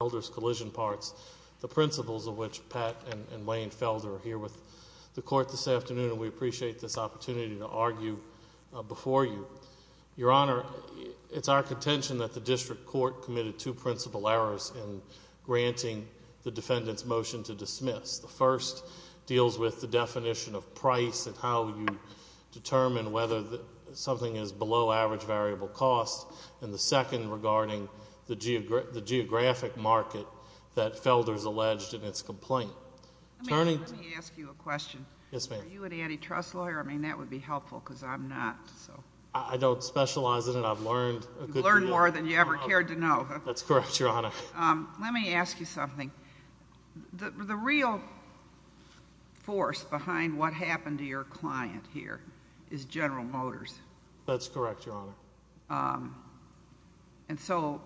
the principles of which Pat and Wayne Felder are here with the Court this afternoon, and we appreciate this opportunity to argue before you. Your Honor, it's our contention that the District Court committed two principal errors in granting the defendant's motion to dismiss. The first deals with the definition of price and how you determine whether something is below average variable cost, and the second regarding the geographic market that Felder's alleged in its complaint. Let me ask you a question. Yes, ma'am. Are you an antitrust lawyer? I mean, that would be helpful, because I'm not. I don't specialize in it. I've learned a good deal. You've learned more than you ever cared to know. That's correct, Your Honor. Let me ask you something. The real force behind what happened to your client here is General Motors. That's correct, Your Honor. And so,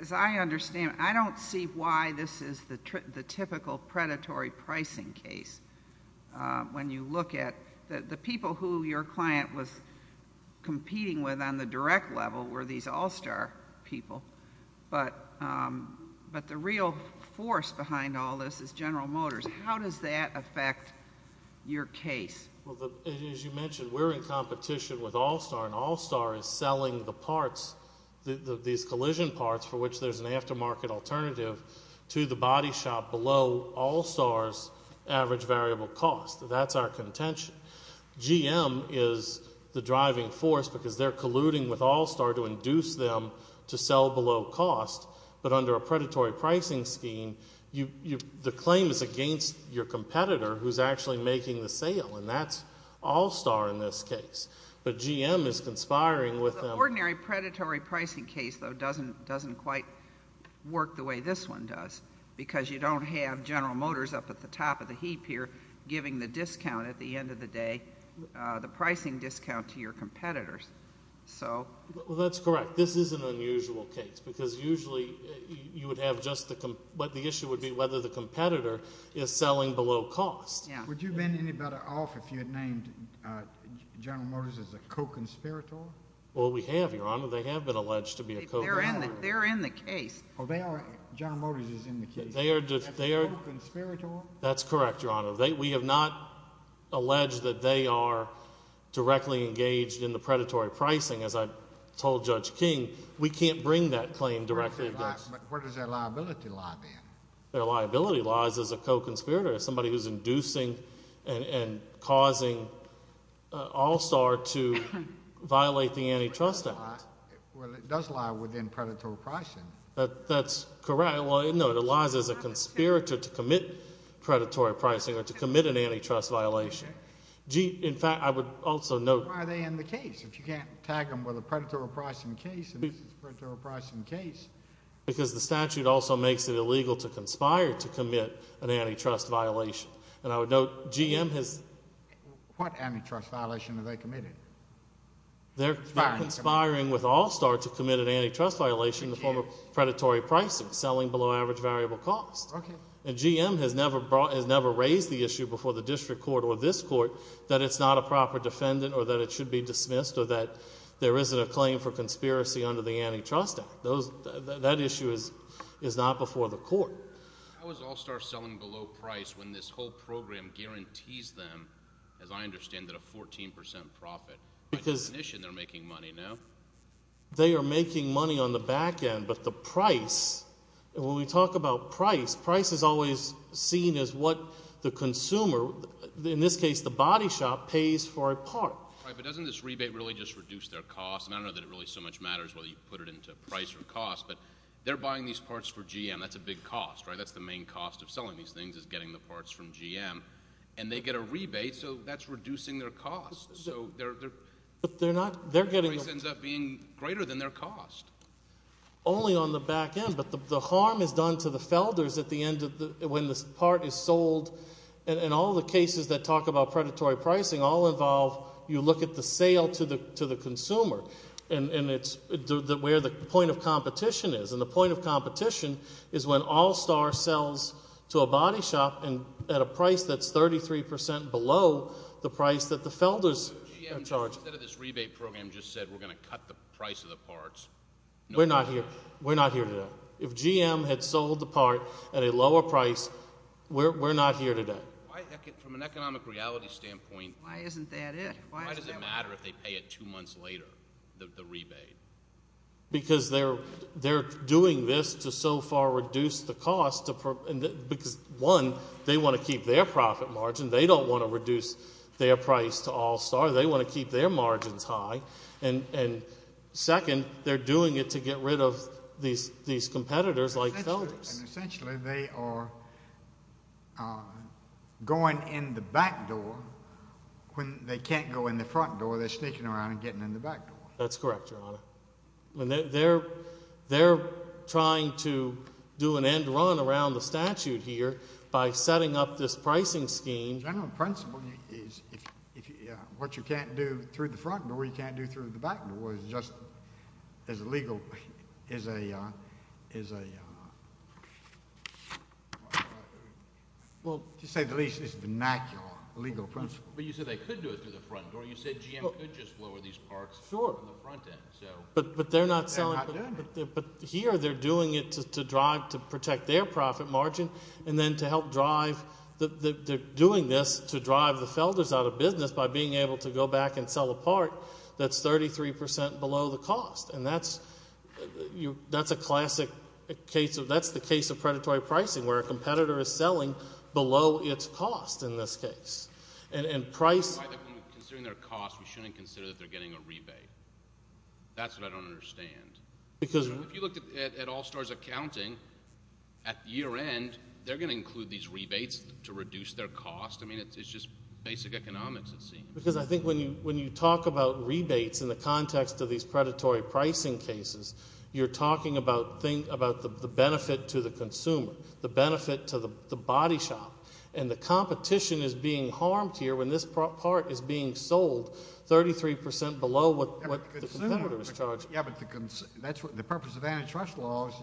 as I understand, I don't see why this is the typical predatory pricing case when you look at the people who your client was competing with on the direct level were these all-star people. But the real force behind all this is General Motors. How does that affect your case? Well, as you mentioned, we're in competition with all-star, and all-star is selling the parts, these collision parts for which there's an aftermarket alternative to the body shop below all-star's average variable cost. That's our contention. GM is the driving force because they're colluding with all-star to induce them to sell below cost. But under a predatory pricing scheme, the claim is against your competitor who's actually making the sale, and that's all-star in this case. But GM is conspiring with them. The ordinary predatory pricing case, though, doesn't quite work the way this one does because you don't have General Motors up at the top of the heap here giving the discount at the end of the day, the pricing discount to your competitors. Well, that's correct. This is an unusual case because usually you would have just what the issue would be whether the competitor is selling below cost. Would you have been any better off if you had named General Motors as a co-conspirator? Well, we have, Your Honor. They have been alleged to be a co-conspirator. They're in the case. General Motors is in the case. That's correct, Your Honor. We have not alleged that they are directly engaged in the predatory pricing. As I told Judge King, we can't bring that claim directly against them. But where does their liability lie then? Their liability lies as a co-conspirator, as somebody who's inducing and causing all-star to violate the antitrust act. Well, it does lie within predatory pricing. That's correct. No, it lies as a conspirator to commit predatory pricing or to commit an antitrust violation. In fact, I would also note— Why are they in the case? If you can't tag them with a predatory pricing case, then this is a predatory pricing case. Because the statute also makes it illegal to conspire to commit an antitrust violation. And I would note GM has— What antitrust violation have they committed? They're conspiring with All-Star to commit an antitrust violation in the form of predatory pricing, selling below average variable cost. And GM has never raised the issue before the district court or this court that it's not a proper defendant or that it should be dismissed or that there isn't a claim for conspiracy under the Antitrust Act. That issue is not before the court. How is All-Star selling below price when this whole program guarantees them, as I understand it, a 14 percent profit? By definition, they're making money now. They are making money on the back end, but the price—when we talk about price, price is always seen as what the consumer, in this case the body shop, pays for a part. Right, but doesn't this rebate really just reduce their cost? And I don't know that it really so much matters whether you put it into price or cost, but they're buying these parts for GM. That's a big cost, right? That's the main cost of selling these things is getting the parts from GM. And they get a rebate, so that's reducing their cost. But they're not—they're getting— The price ends up being greater than their cost. Only on the back end. But the harm is done to the felders at the end of the—when this part is sold. And all the cases that talk about predatory pricing all involve you look at the sale to the consumer. And it's where the point of competition is. And the point of competition is when All-Star sells to a body shop at a price that's 33 percent below the price that the felders are charging. GM, instead of this rebate program, just said we're going to cut the price of the parts. We're not here. We're not here today. If GM had sold the part at a lower price, we're not here today. Why—from an economic reality standpoint— Why isn't that it? Why does it matter if they pay it two months later, the rebate? Because they're doing this to so far reduce the cost. Because, one, they want to keep their profit margin. They don't want to reduce their price to All-Star. They want to keep their margins high. And, second, they're doing it to get rid of these competitors like felders. And essentially they are going in the back door when they can't go in the front door. They're sneaking around and getting in the back door. That's correct, Your Honor. They're trying to do an end run around the statute here by setting up this pricing scheme. The general principle is what you can't do through the front door, you can't do through the back door. It's just as legal as a—to say the least, it's a vernacular legal principle. But you said they could do it through the front door. You said GM could just lower these parts from the front end. But they're not selling— They're not doing it. But here they're doing it to drive—to protect their profit margin and then to help drive—they're doing this to drive the felders out of business by being able to go back and sell a part that's 33% below the cost. And that's a classic case of—that's the case of predatory pricing where a competitor is selling below its cost in this case. And price— Considering their cost, we shouldn't consider that they're getting a rebate. That's what I don't understand. Because if you look at All-Stars accounting, at year end, they're going to include these rebates to reduce their cost. I mean it's just basic economics it seems. Because I think when you talk about rebates in the context of these predatory pricing cases, you're talking about the benefit to the consumer, the benefit to the body shop. And the competition is being harmed here when this part is being sold 33% below what the competitor is charging. Yeah, but the purpose of antitrust laws,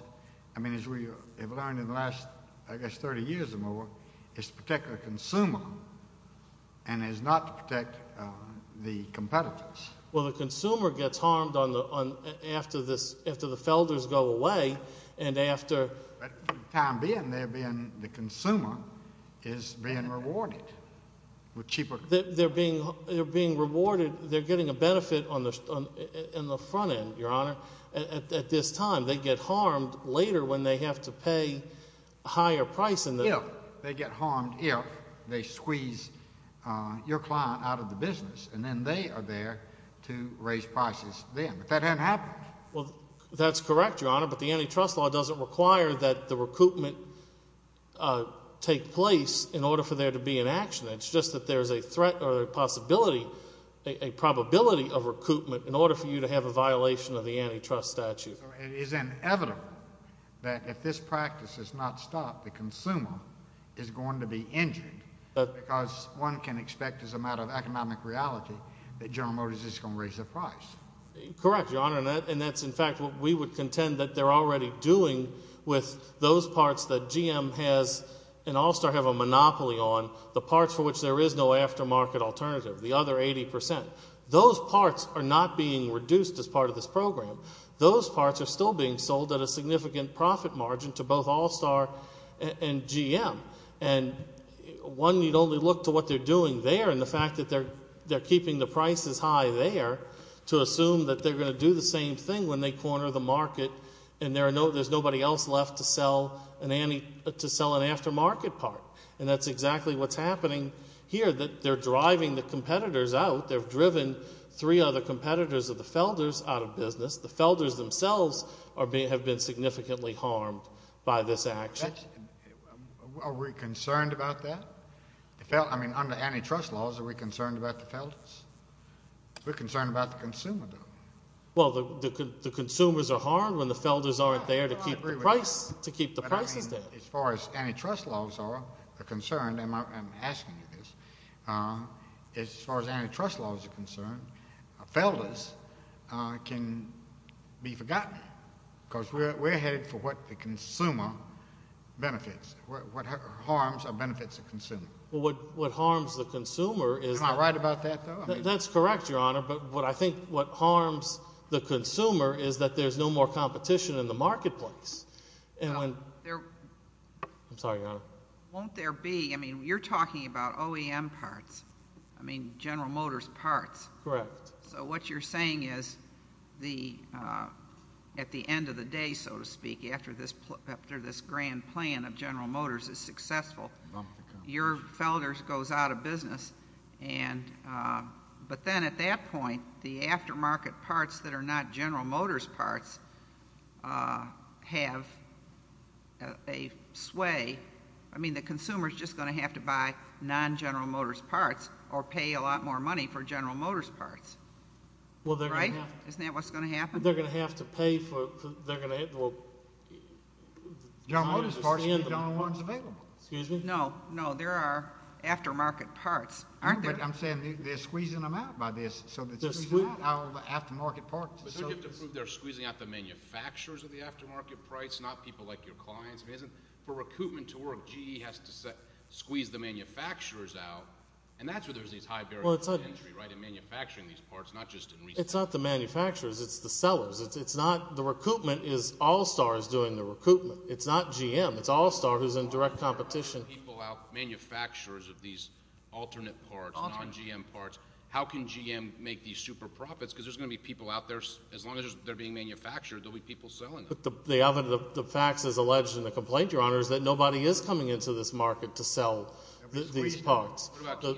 I mean as we have learned in the last, I guess, 30 years or more, is to protect the consumer and is not to protect the competitors. Well, the consumer gets harmed after the felders go away and after— Time being, the consumer is being rewarded with cheaper— They're being rewarded. They're getting a benefit in the front end, Your Honor, at this time. They get harmed later when they have to pay a higher price. Yeah, they get harmed if they squeeze your client out of the business. And then they are there to raise prices then. But that hasn't happened. Well, that's correct, Your Honor, but the antitrust law doesn't require that the recoupment take place in order for there to be an action. It's just that there's a threat or a possibility, a probability of recoupment in order for you to have a violation of the antitrust statute. So it is inevitable that if this practice is not stopped, the consumer is going to be injured because one can expect as a matter of economic reality that General Motors is going to raise their price. Correct, Your Honor, and that's, in fact, what we would contend that they're already doing with those parts that GM has and All-Star have a monopoly on, the parts for which there is no aftermarket alternative, the other 80%. Those parts are not being reduced as part of this program. Those parts are still being sold at a significant profit margin to both All-Star and GM. And one need only look to what they're doing there and the fact that they're keeping the prices high there to assume that they're going to do the same thing when they corner the market and there's nobody else left to sell an aftermarket part. And that's exactly what's happening here, that they're driving the competitors out. They've driven three other competitors of the Felders out of business. The Felders themselves have been significantly harmed by this action. Are we concerned about that? I mean, under antitrust laws, are we concerned about the Felders? We're concerned about the consumer, though. Well, the consumers are harmed when the Felders aren't there to keep the prices there. As far as antitrust laws are concerned, and I'm asking you this, as far as antitrust laws are concerned, Felders can be forgotten because we're headed for what the consumer benefits, what harms or benefits the consumer. Well, what harms the consumer is that. Am I right about that, though? That's correct, Your Honor, but I think what harms the consumer is that there's no more competition in the marketplace. I'm sorry, Your Honor. Won't there be? I mean, you're talking about OEM parts. I mean, General Motors parts. Correct. So what you're saying is at the end of the day, so to speak, after this grand plan of General Motors is successful, your Felders goes out of business, but then at that point, the aftermarket parts that are not General Motors parts have a sway. I mean, the consumer is just going to have to buy non-General Motors parts or pay a lot more money for General Motors parts. Right? Isn't that what's going to happen? They're going to have to pay for – they're going to – well, General Motors parts will be the only ones available. Excuse me? No, no. There are aftermarket parts, aren't there? No, but I'm saying they're squeezing them out by this. So they're squeezing out all the aftermarket parts. They're squeezing out the manufacturers of the aftermarket parts, not people like your clients. For recoupment to work, GE has to squeeze the manufacturers out, and that's where there's these high barriers to entry, right, in manufacturing these parts, not just in retail. It's not the manufacturers. It's the sellers. It's not – the recoupment is All-Star is doing the recoupment. It's not GM. It's All-Star who's in direct competition. How are you going to get people out, manufacturers of these alternate parts, non-GM parts? How can GM make these super profits? Because there's going to be people out there – as long as they're being manufactured, there'll be people selling them. The facts as alleged in the complaint, Your Honor, is that nobody is coming into this market to sell these parts. What about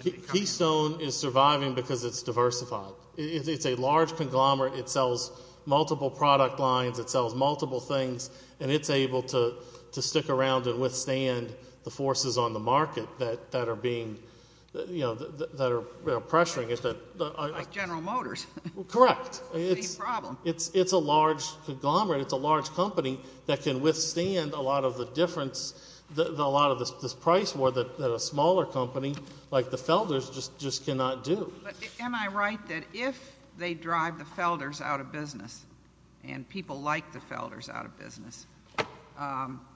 Keystone? Keystone is surviving because it's diversified. It's a large conglomerate. It sells multiple product lines. It sells multiple things, and it's able to stick around and withstand the forces on the market that are being – that are pressuring it. Like General Motors. Correct. It's a large conglomerate. Am I right that if they drive the Felders out of business, and people like the Felders out of business,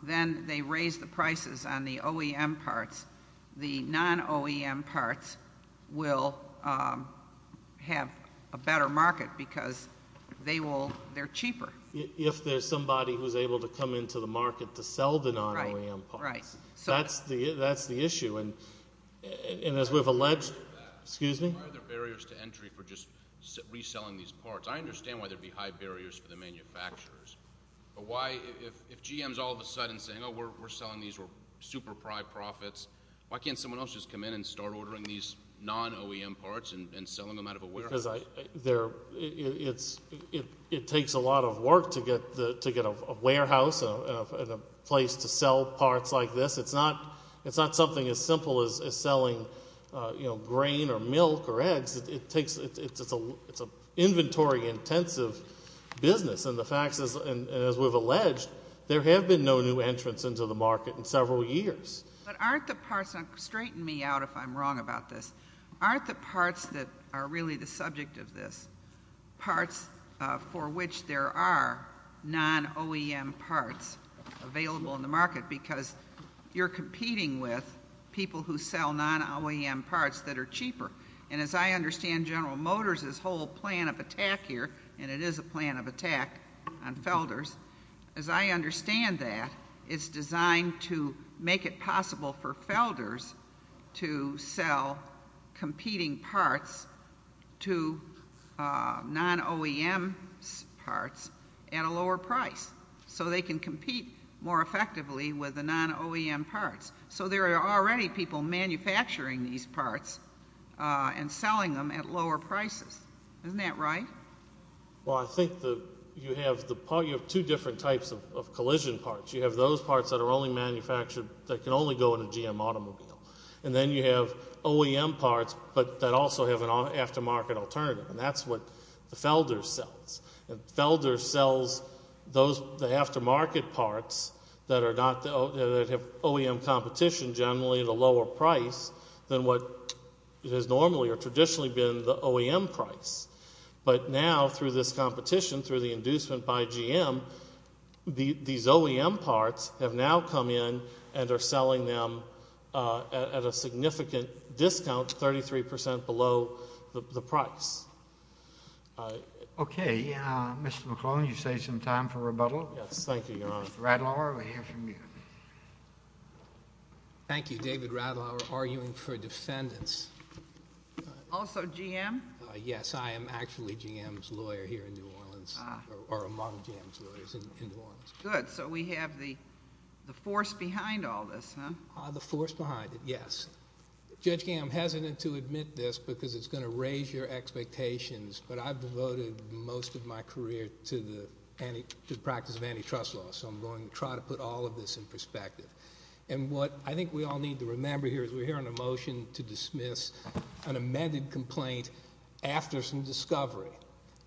then they raise the prices on the OEM parts. The non-OEM parts will have a better market because they will – they're cheaper. If there's somebody who's able to come into the market to sell the non-OEM parts. Right, right. That's the issue. And as we've alleged – excuse me? Why are there barriers to entry for just reselling these parts? I understand why there would be high barriers for the manufacturers. But why – if GM is all of a sudden saying, oh, we're selling these, we're super-pride profits, why can't someone else just come in and start ordering these non-OEM parts and selling them out of a warehouse? Because it takes a lot of work to get a warehouse and a place to sell parts like this. It's not something as simple as selling, you know, grain or milk or eggs. It takes – it's an inventory-intensive business. And the fact is, as we've alleged, there have been no new entrants into the market in several years. But aren't the parts – straighten me out if I'm wrong about this. Aren't the parts that are really the subject of this parts for which there are non-OEM parts available in the market? Because you're competing with people who sell non-OEM parts that are cheaper. And as I understand General Motors' whole plan of attack here – and it is a plan of attack on Felder's – as I understand that, it's designed to make it possible for Felder's to sell competing parts to non-OEM parts at a lower price. So they can compete more effectively with the non-OEM parts. So there are already people manufacturing these parts and selling them at lower prices. Isn't that right? Well, I think you have two different types of collision parts. You have those parts that are only manufactured – that can only go in a GM automobile. And then you have OEM parts, but that also have an aftermarket alternative. And that's what Felder's sells. And Felder's sells the aftermarket parts that have OEM competition generally at a lower price than what it has normally or traditionally been the OEM price. But now through this competition, through the inducement by GM, these OEM parts have now come in and are selling them at a significant discount, 33% below the price. Okay, Mr. McClellan, you save some time for rebuttal. Yes, thank you, Your Honor. Mr. Radlauer, we hear from you. Thank you. David Radlauer, arguing for defendants. Also GM? Yes, I am actually GM's lawyer here in New Orleans, or among GM's lawyers in New Orleans. Good. So we have the force behind all this, huh? The force behind it, yes. Judge King, I'm hesitant to admit this because it's going to raise your expectations, but I've devoted most of my career to the practice of antitrust law. So I'm going to try to put all of this in perspective. And what I think we all need to remember here is we're hearing a motion to dismiss an amended complaint after some discovery.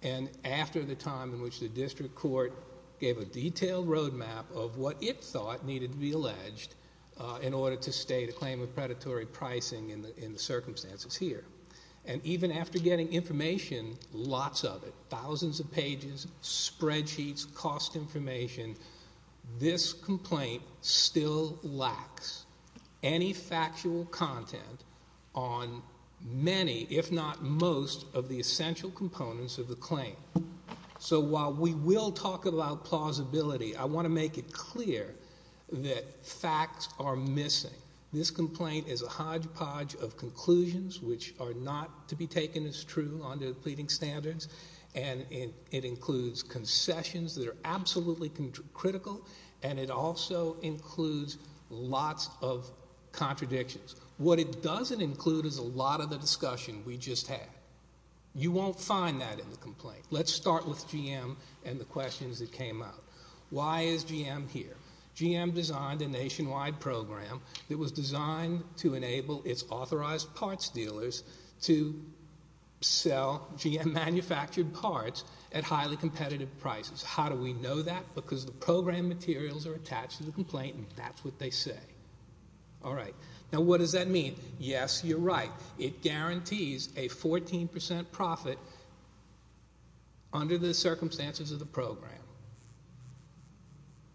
And after the time in which the district court gave a detailed roadmap of what it thought needed to be alleged in order to state a claim of predatory pricing in the circumstances here. And even after getting information, lots of it, thousands of pages, spreadsheets, cost information, this complaint still lacks any factual content on many, if not most, of the essential components of the claim. So while we will talk about plausibility, I want to make it clear that facts are missing. This complaint is a hodgepodge of conclusions which are not to be taken as true under the pleading standards. And it includes concessions that are absolutely critical, and it also includes lots of contradictions. What it doesn't include is a lot of the discussion we just had. You won't find that in the complaint. Let's start with GM and the questions that came out. Why is GM here? GM designed a nationwide program that was designed to enable its authorized parts dealers to sell GM-manufactured parts at highly competitive prices. How do we know that? Because the program materials are attached to the complaint, and that's what they say. All right. Now, what does that mean? Yes, you're right. It guarantees a 14% profit under the circumstances of the program.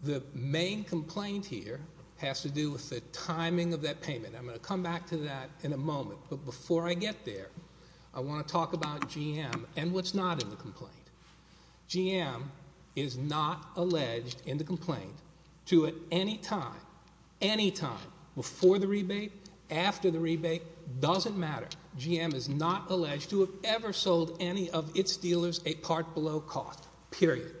The main complaint here has to do with the timing of that payment. I'm going to come back to that in a moment, but before I get there, I want to talk about GM and what's not in the complaint. GM is not alleged in the complaint to at any time, any time, before the rebate, after the rebate, doesn't matter. GM is not alleged to have ever sold any of its dealers a part below cost, period.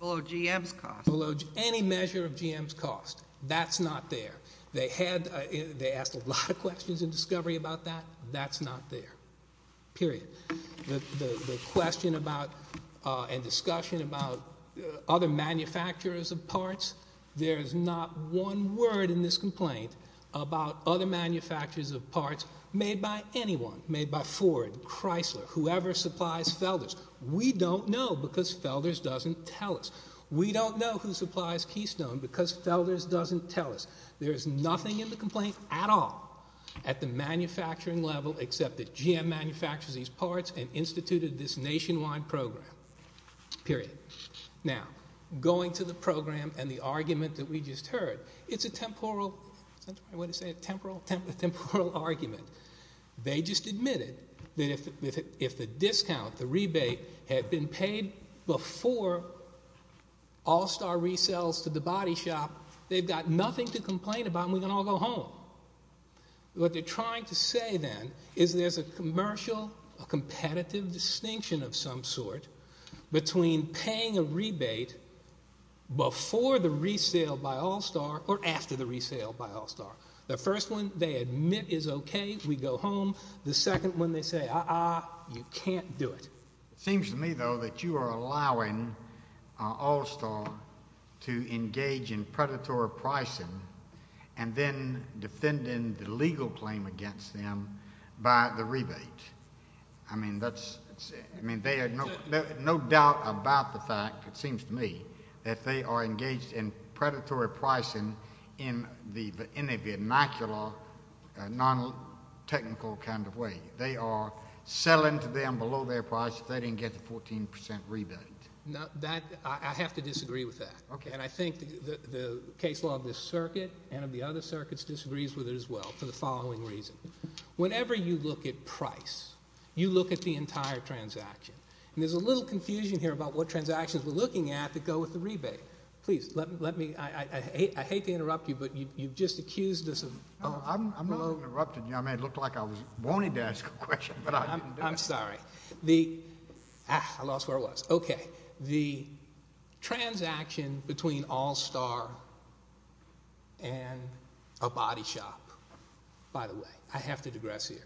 Below GM's cost? Below any measure of GM's cost. That's not there. They asked a lot of questions in discovery about that. That's not there, period. The question about and discussion about other manufacturers of parts, there is not one word in this complaint about other manufacturers of parts made by anyone, made by Ford, Chrysler, whoever supplies Felder's. We don't know because Felder's doesn't tell us. We don't know who supplies Keystone because Felder's doesn't tell us. There is nothing in the complaint at all at the manufacturing level except that GM manufactures these parts and instituted this nationwide program, period. Now, going to the program and the argument that we just heard, it's a temporal argument. They just admitted that if the discount, the rebate, had been paid before All-Star resales to the body shop, they've got nothing to complain about and we can all go home. What they're trying to say then is there's a commercial, a competitive distinction of some sort between paying a rebate before the resale by All-Star or after the resale by All-Star. The first one, they admit is okay, we go home. The second one, they say, uh-uh, you can't do it. It seems to me, though, that you are allowing All-Star to engage in predatory pricing and then defending the legal claim against them by the rebate. I mean, they have no doubt about the fact, it seems to me, that they are engaged in predatory pricing in a vernacular, non-technical kind of way. They are selling to them below their price if they didn't get the 14 percent rebate. I have to disagree with that. Okay. And I think the case law of this circuit and of the other circuits disagrees with it as well for the following reason. Whenever you look at price, you look at the entire transaction. And there's a little confusion here about what transactions we're looking at that go with the rebate. Please, let me – I hate to interrupt you, but you've just accused us of – I'm not interrupting you. I mean, it looked like I was wanting to ask a question, but I didn't do it. I'm sorry. The – ah, I lost where I was. Okay. The transaction between All Star and a body shop. By the way, I have to digress here.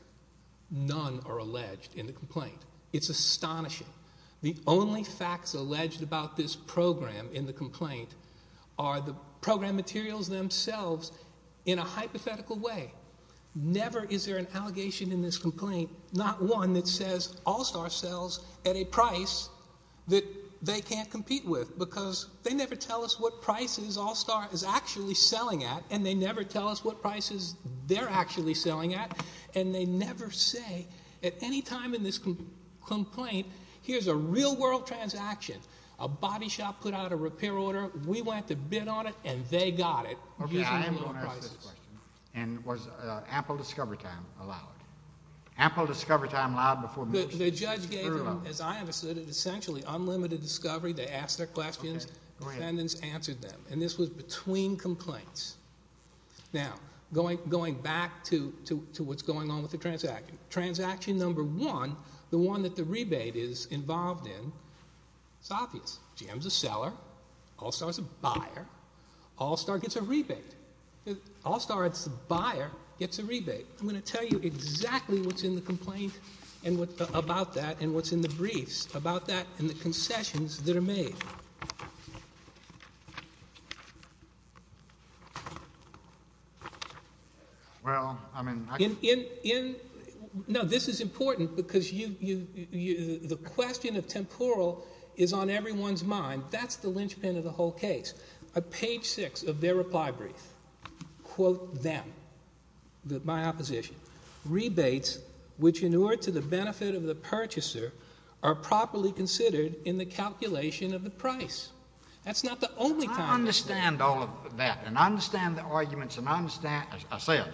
None are alleged in the complaint. It's astonishing. The only facts alleged about this program in the complaint are the program materials themselves in a hypothetical way. Never is there an allegation in this complaint, not one that says All Star sells at a price that they can't compete with because they never tell us what prices All Star is actually selling at, and they never tell us what prices they're actually selling at, and they never say at any time in this complaint, here's a real world transaction. A body shop put out a repair order. We went to bid on it, and they got it. Okay, I am going to ask this question. And was ample discovery time allowed? Ample discovery time allowed before motions were allowed? The judge gave them, as I understood it, essentially unlimited discovery. They asked their questions. Defendants answered them, and this was between complaints. Now, going back to what's going on with the transaction. Transaction number one, the one that the rebate is involved in, it's obvious. GM's a seller. All Star's a buyer. All Star gets a rebate. All Star, it's the buyer, gets a rebate. I'm going to tell you exactly what's in the complaint about that and what's in the briefs about that and the concessions that are made. Well, I mean, I can't. No, this is important because the question of temporal is on everyone's mind. That's the linchpin of the whole case. On page six of their reply brief, quote them, my opposition, rebates which in order to the benefit of the purchaser are properly considered in the calculation of the price. That's not the only time. I understand all of that, and I understand the arguments, and I understand. I say I do.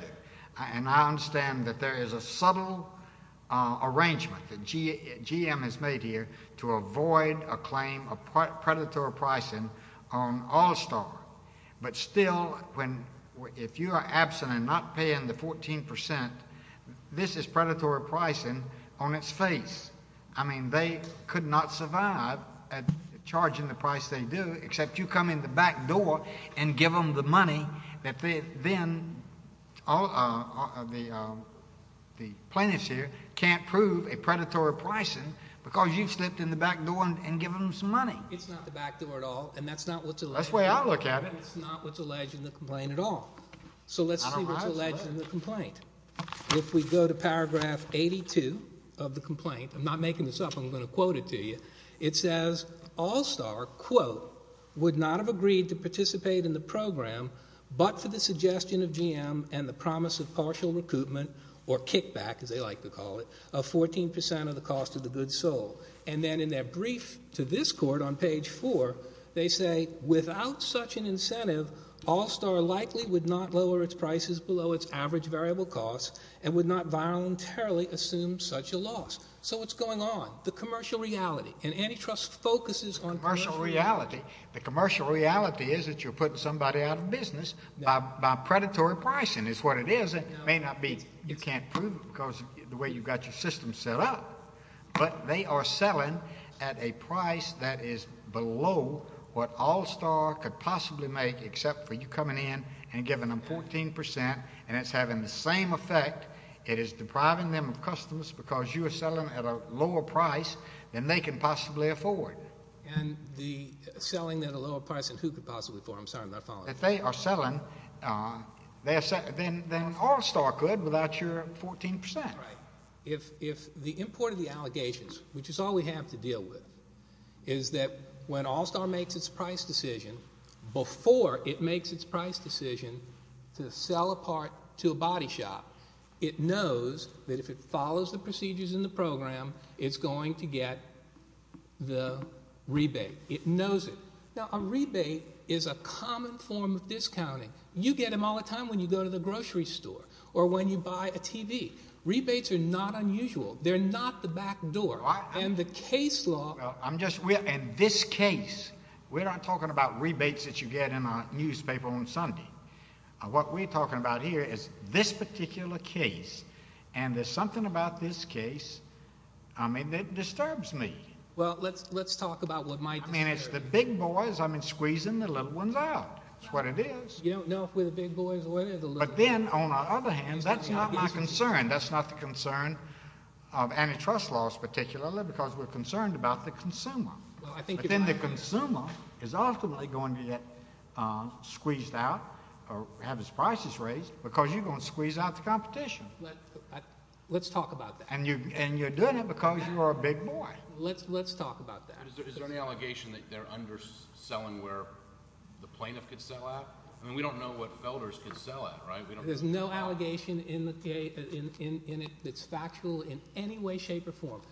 And I understand that there is a subtle arrangement that GM has made here to avoid a claim of predatory pricing on All Star. But still, if you are absent and not paying the 14%, this is predatory pricing on its face. I mean, they could not survive at charging the price they do except you come in the back door and give them the money that then the plaintiffs here can't prove a predatory pricing because you've slipped in the back door and given them some money. It's not the back door at all, and that's not what's alleged. That's the way I look at it. That's not what's alleged in the complaint at all. So let's see what's alleged in the complaint. If we go to paragraph 82 of the complaint, I'm not making this up. I'm going to quote it to you. It says, All Star, quote, would not have agreed to participate in the program but for the suggestion of GM and the promise of partial recoupment or kickback, as they like to call it, of 14% of the cost of the goods sold. And then in their brief to this court on page 4, they say, without such an incentive, All Star likely would not lower its prices below its average variable cost and would not voluntarily assume such a loss. So what's going on? The commercial reality, and antitrust focuses on commercial reality. The commercial reality is that you're putting somebody out of business by predatory pricing is what it is. It may not be. You can't prove it because of the way you've got your system set up. But they are selling at a price that is below what All Star could possibly make except for you coming in and giving them 14%, and it's having the same effect. It is depriving them of customers because you are selling at a lower price than they can possibly afford. And the selling at a lower price than who could possibly afford? If they are selling, then All Star could without your 14%. If the import of the allegations, which is all we have to deal with, is that when All Star makes its price decision, before it makes its price decision to sell a part to a body shop, it knows that if it follows the procedures in the program, it's going to get the rebate. It knows it. Now, a rebate is a common form of discounting. You get them all the time when you go to the grocery store or when you buy a TV. Rebates are not unusual. They're not the back door. In this case, we're not talking about rebates that you get in a newspaper on Sunday. What we're talking about here is this particular case, and there's something about this case that disturbs me. Well, let's talk about what might disturb you. And it's the big boys squeezing the little ones out. That's what it is. You don't know if we're the big boys or the little ones. But then, on the other hand, that's not my concern. That's not the concern of antitrust laws particularly because we're concerned about the consumer. But then the consumer is ultimately going to get squeezed out or have his prices raised because you're going to squeeze out the competition. Let's talk about that. And you're doing it because you're a big boy. Let's talk about that. Is there any allegation that they're underselling where the plaintiff could sell at? I mean we don't know what Felder's could sell at, right? There's no allegation in it that's factual in any way, shape, or form.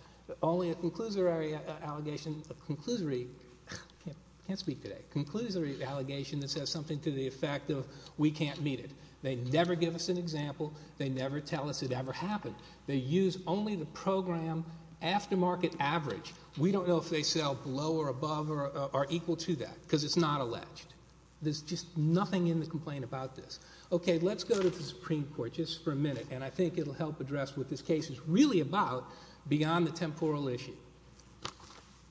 Only a conclusory allegation. A conclusory. I can't speak today. A conclusory allegation that says something to the effect of we can't meet it. They never give us an example. They never tell us it ever happened. They use only the program aftermarket average. We don't know if they sell below or above or equal to that because it's not alleged. There's just nothing in the complaint about this. Okay, let's go to the Supreme Court just for a minute, and I think it will help address what this case is really about beyond the temporal issue.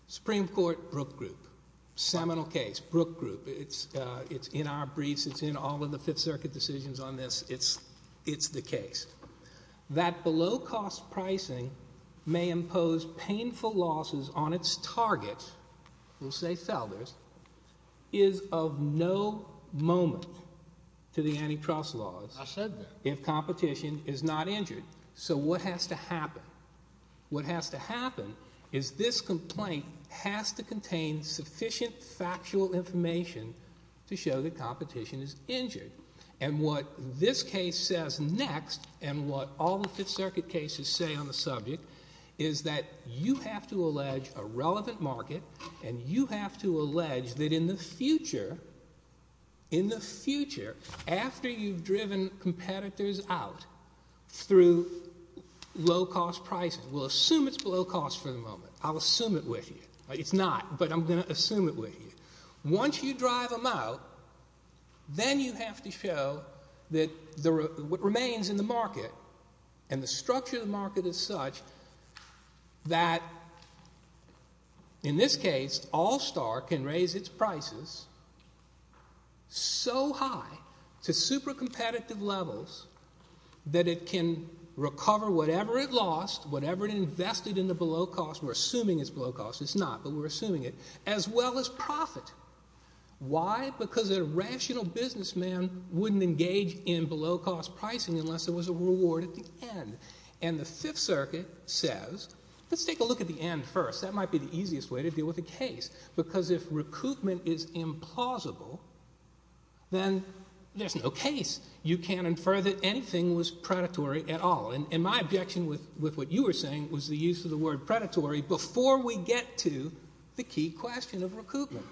Supreme Court, Brooke Group. Seminal case. Brooke Group. It's in our briefs. It's in all of the Fifth Circuit decisions on this. It's the case. That below-cost pricing may impose painful losses on its target, we'll say Felder's, is of no moment to the antitrust laws if competition is not injured. So what has to happen? What has to happen is this complaint has to contain sufficient factual information to show that competition is injured. And what this case says next and what all the Fifth Circuit cases say on the subject is that you have to allege a relevant market and you have to allege that in the future, in the future, after you've driven competitors out through low-cost pricing, we'll assume it's below cost for the moment. I'll assume it with you. It's not, but I'm going to assume it with you. Once you drive them out, then you have to show that what remains in the market and the structure of the market is such that in this case, All-Star can raise its prices so high to super-competitive levels that it can recover whatever it lost, whatever it invested in the below-cost. We're assuming it's below cost. It's not, but we're assuming it, as well as profit. Why? Because a rational businessman wouldn't engage in below-cost pricing unless there was a reward at the end. And the Fifth Circuit says, let's take a look at the end first. That might be the easiest way to deal with the case because if recoupment is implausible, then there's no case. You can't infer that anything was predatory at all. And my objection with what you were saying was the use of the word predatory before we get to the key question of recoupment.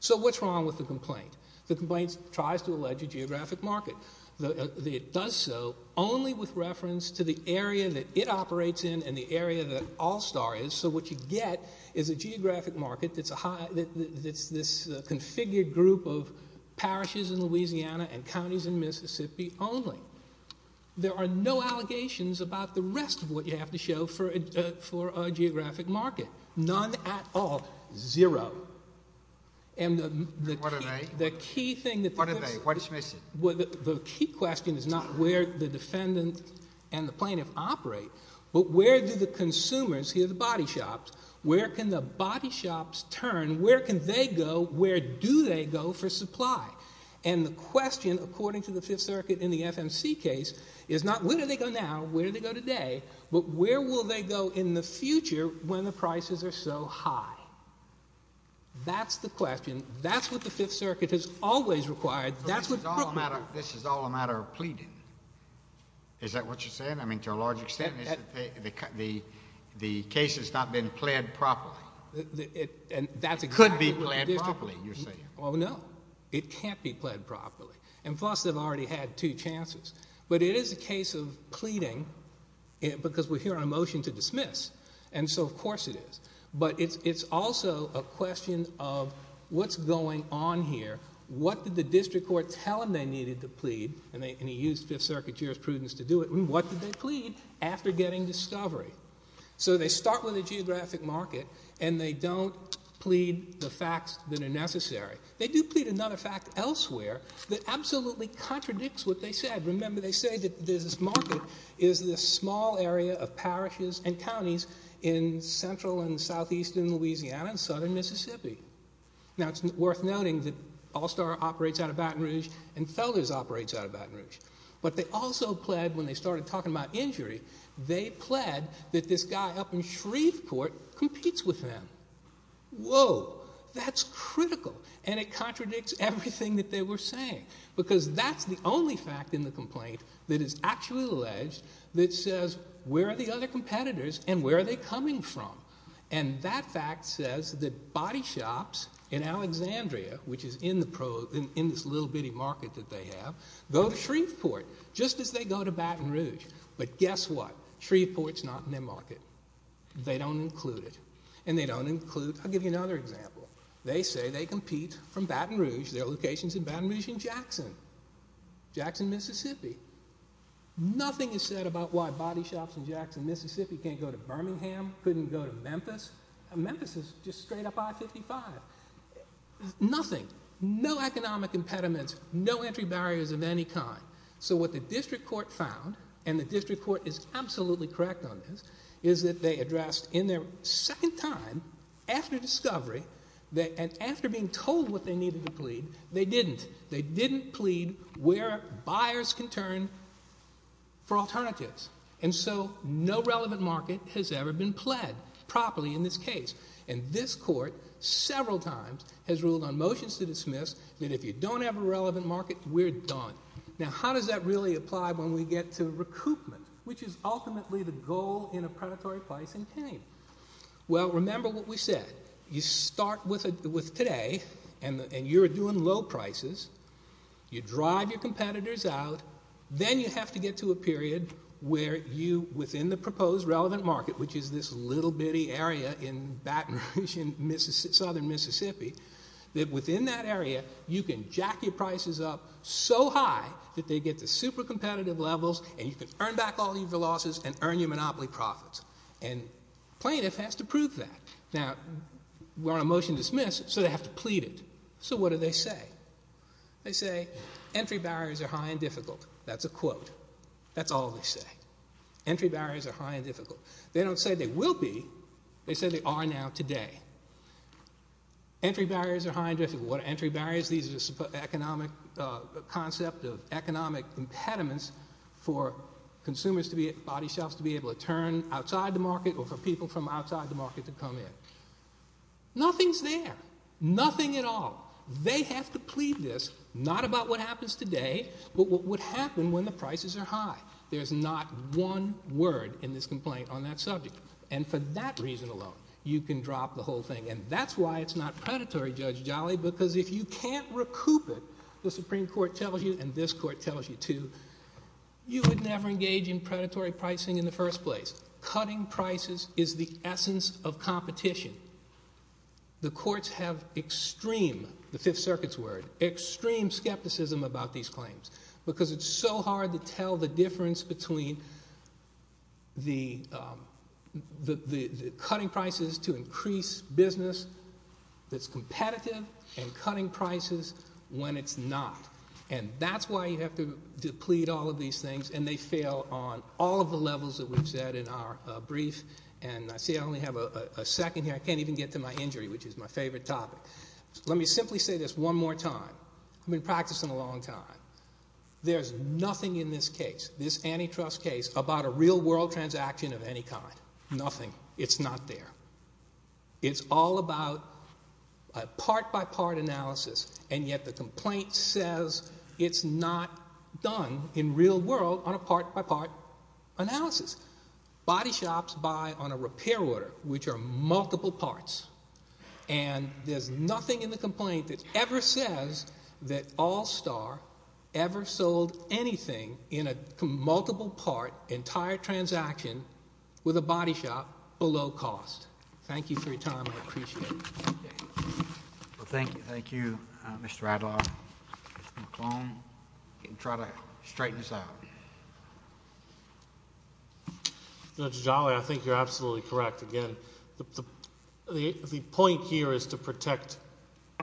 So what's wrong with the complaint? The complaint tries to allege a geographic market. It does so only with reference to the area that it operates in and the area that All-Star is. So what you get is a geographic market that's this configured group of parishes in Louisiana and counties in Mississippi only. There are no allegations about the rest of what you have to show for a geographic market. None at all. Zero. What are they? What are they? What do you mean? The key question is not where the defendant and the plaintiff operate, but where do the consumers, the body shops, where can the body shops turn? Where can they go? Where do they go for supply? And the question, according to the Fifth Circuit in the FMC case, is not where do they go now, where do they go today, but where will they go in the future when the prices are so high? That's the question. That's what the Fifth Circuit has always required. This is all a matter of pleading. Is that what you're saying? I mean, to a large extent, the case has not been pled properly. It could be pled properly, you're saying. Well, no. It can't be pled properly. And plus, they've already had two chances. But it is a case of pleading because we're hearing a motion to dismiss. And so, of course it is. But it's also a question of what's going on here? What did the district court tell them they needed to plead? And he used Fifth Circuit jurisprudence to do it. What did they plead after getting discovery? So, they start with a geographic market and they don't plead the facts that are necessary. They do plead another fact elsewhere that absolutely contradicts what they said. Remember, they say that this market is this small area of parishes and counties in central and southeastern Louisiana and southern Mississippi. Now, it's worth noting that All-Star operates out of Baton Rouge and Felder's operates out of Baton Rouge. But they also pled when they started talking about injury. They pled that this guy up in Shreveport competes with them. Whoa. That's critical. And it contradicts everything that they were saying. Because that's the only fact in the complaint that is actually alleged that says where are the other competitors and where are they coming from? And that fact says that body shops in Alexandria, which is in this little bitty market that they have, go to Shreveport just as they go to Baton Rouge. But guess what? Shreveport's not in their market. They don't include it. And they don't include – I'll give you another example. They say they compete from Baton Rouge. Nothing is said about why body shops in Jackson, Mississippi can't go to Birmingham, couldn't go to Memphis. Memphis is just straight up I-55. Nothing. No economic impediments. No entry barriers of any kind. So what the district court found, and the district court is absolutely correct on this, is that they addressed in their second time, after discovery, and after being told what they needed to plead, they didn't. They didn't plead where buyers can turn for alternatives. And so no relevant market has ever been pled properly in this case. And this court, several times, has ruled on motions to dismiss that if you don't have a relevant market, we're done. Now, how does that really apply when we get to recoupment, which is ultimately the goal in a predatory pricing campaign? Well, remember what we said. You start with today, and you're doing low prices. You drive your competitors out. Then you have to get to a period where you, within the proposed relevant market, which is this little bitty area in Baton Rouge in southern Mississippi, that within that area, you can jack your prices up so high that they get to super competitive levels, and you can earn back all your losses and earn your monopoly profits. And plaintiff has to prove that. Now, we're on a motion to dismiss, so they have to plead it. So what do they say? They say, entry barriers are high and difficult. That's a quote. That's all they say. Entry barriers are high and difficult. They don't say they will be. They say they are now today. Entry barriers are high and difficult. What are entry barriers? These are the concept of economic impediments for consumers to be at body shops to be able to turn outside the market or for people from outside the market to come in. Nothing's there. Nothing at all. They have to plead this, not about what happens today, but what would happen when the prices are high. There's not one word in this complaint on that subject. And for that reason alone, you can drop the whole thing. And that's why it's not predatory, Judge Jolly, because if you can't recoup it, the Supreme Court tells you and this court tells you too, you would never engage in predatory pricing in the first place. Cutting prices is the essence of competition. The courts have extreme, the Fifth Circuit's word, extreme skepticism about these claims because it's so hard to tell the difference between the cutting prices to increase business that's competitive and cutting prices when it's not. And that's why you have to plead all of these things. And they fail on all of the levels that we've said in our brief. And I see I only have a second here. I can't even get to my injury, which is my favorite topic. Let me simply say this one more time. I've been practicing a long time. There's nothing in this case, this antitrust case, about a real-world transaction of any kind. Nothing. It's not there. It's all about a part-by-part analysis, and yet the complaint says it's not done in real world on a part-by-part analysis. Body shops buy on a repair order, which are multiple parts. And there's nothing in the complaint that ever says that All Star ever sold anything in a multiple-part entire transaction with a body shop below cost. Thank you for your time. I appreciate it. Thank you, Mr. Adler. Mr. McClone, you can try to straighten this out. Judge Jolly, I think you're absolutely correct. Again, the point here is to protect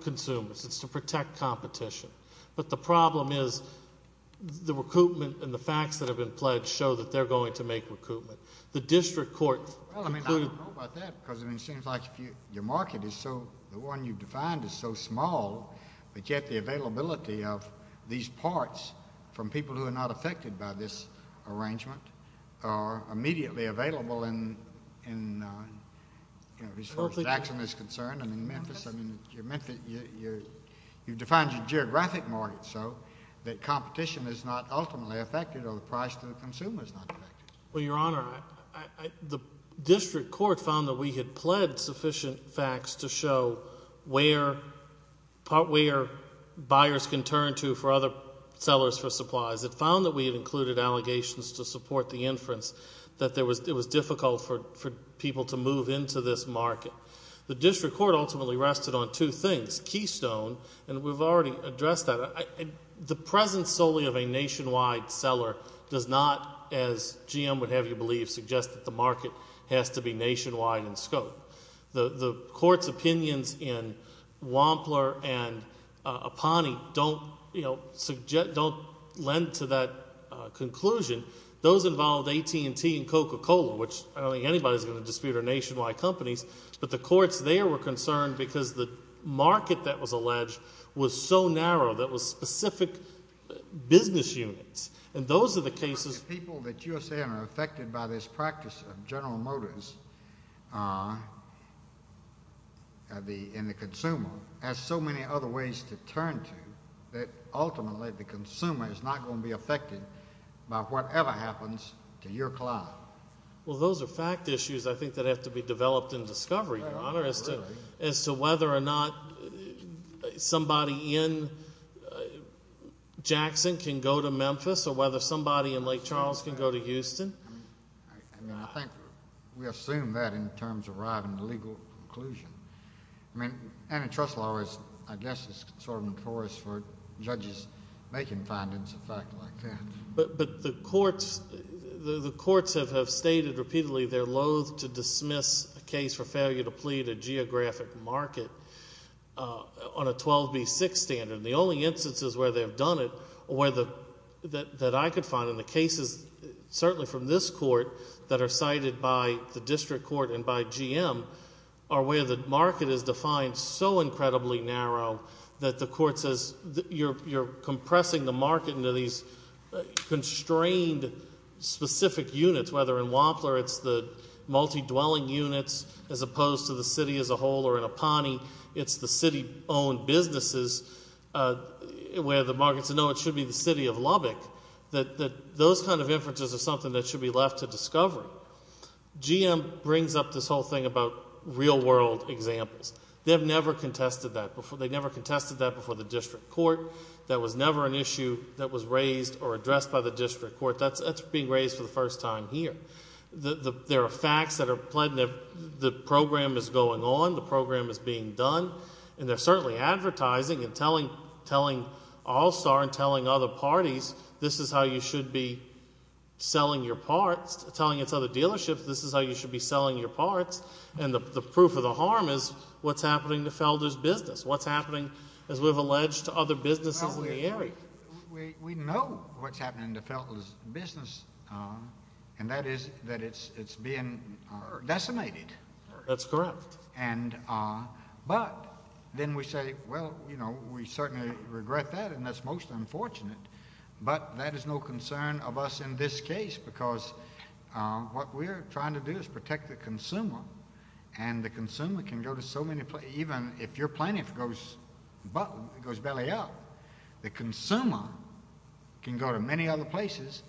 consumers. It's to protect competition. But the problem is the recoupment and the facts that have been pledged show that they're going to make recoupment. Well, I mean, I don't know about that because it seems like your market is so—the one you defined is so small, but yet the availability of these parts from people who are not affected by this arrangement are immediately available in, you know, as far as Daxton is concerned. And in Memphis, I mean, you've defined your geographic market so that competition is not ultimately affected or the price to the consumer is not affected. Well, Your Honor, the district court found that we had pledged sufficient facts to show where buyers can turn to for other sellers for supplies. It found that we had included allegations to support the inference that it was difficult for people to move into this market. The district court ultimately rested on two things. And we've already addressed that. The presence solely of a nationwide seller does not, as GM would have you believe, suggest that the market has to be nationwide in scope. The court's opinions in Wampler and Apani don't, you know, lend to that conclusion. Those involved AT&T and Coca-Cola, which I don't think anybody's going to dispute are nationwide companies, but the courts there were concerned because the market that was alleged was so narrow that it was specific business units. And those are the cases. But the people that you're saying are affected by this practice of General Motors and the consumer have so many other ways to turn to that ultimately the consumer is not going to be affected by whatever happens to your client. Well, those are fact issues I think that have to be developed in discovery, Your Honor, as to whether or not somebody in Jackson can go to Memphis or whether somebody in Lake Charles can go to Houston. I mean, I think we assume that in terms of arriving at a legal conclusion. I mean, antitrust law is, I guess, sort of notorious for judges making findings of facts like that. But the courts have stated repeatedly they're loathe to dismiss a case for failure to plead a geographic market on a 12B6 standard. And the only instances where they've done it that I could find, and the cases certainly from this court that are cited by the district court and by GM are where the market is defined so incredibly narrow that the court says you're compressing the market into these constrained specific units, whether in Wampler it's the multi-dwelling units as opposed to the city as a whole or in Aponi it's the city-owned businesses where the market says, no, it should be the city of Lubbock, that those kind of inferences are something that should be left to discovery. GM brings up this whole thing about real world examples. They've never contested that before. They never contested that before the district court. That was never an issue that was raised or addressed by the district court. That's being raised for the first time here. There are facts that are pled and the program is going on. The program is being done. And they're certainly advertising and telling All Star and telling other parties this is how you should be selling your parts, telling its other dealerships this is how you should be selling your parts. And the proof of the harm is what's happening to Felder's business, what's happening, as we've alleged, to other businesses in the area. We know what's happening to Felder's business, and that is that it's being decimated. That's correct. But then we say, well, we certainly regret that, and that's most unfortunate. But that is no concern of us in this case because what we're trying to do is protect the consumer, and the consumer can go to so many places. Even if your plaintiff goes belly up, the consumer can go to many other places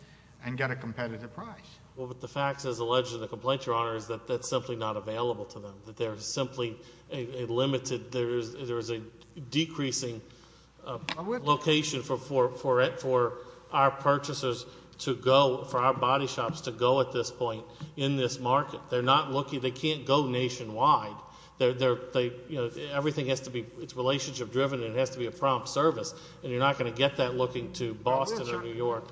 and get a competitive price. Well, but the facts, as alleged in the complaint, Your Honor, is that that's simply not available to them, that they're simply a limited, there is a decreasing location for our purchasers to go, for our body shops to go at this point in this market. They're not looking, they can't go nationwide. Everything has to be, it's relationship driven and it has to be a prompt service, and you're not going to get that looking to Boston or New York.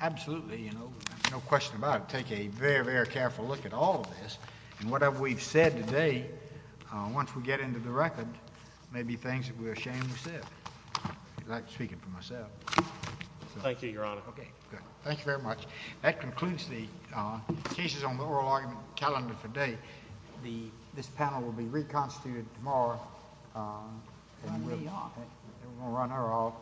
Absolutely, you know, no question about it. We're going to take a very, very careful look at all of this, and whatever we've said today, once we get into the record, may be things that we're ashamed to say. I like speaking for myself. Thank you, Your Honor. Okay, good. Thank you very much. That concludes the cases on the oral argument calendar for today. This panel will be reconstituted tomorrow. We're going to run our off.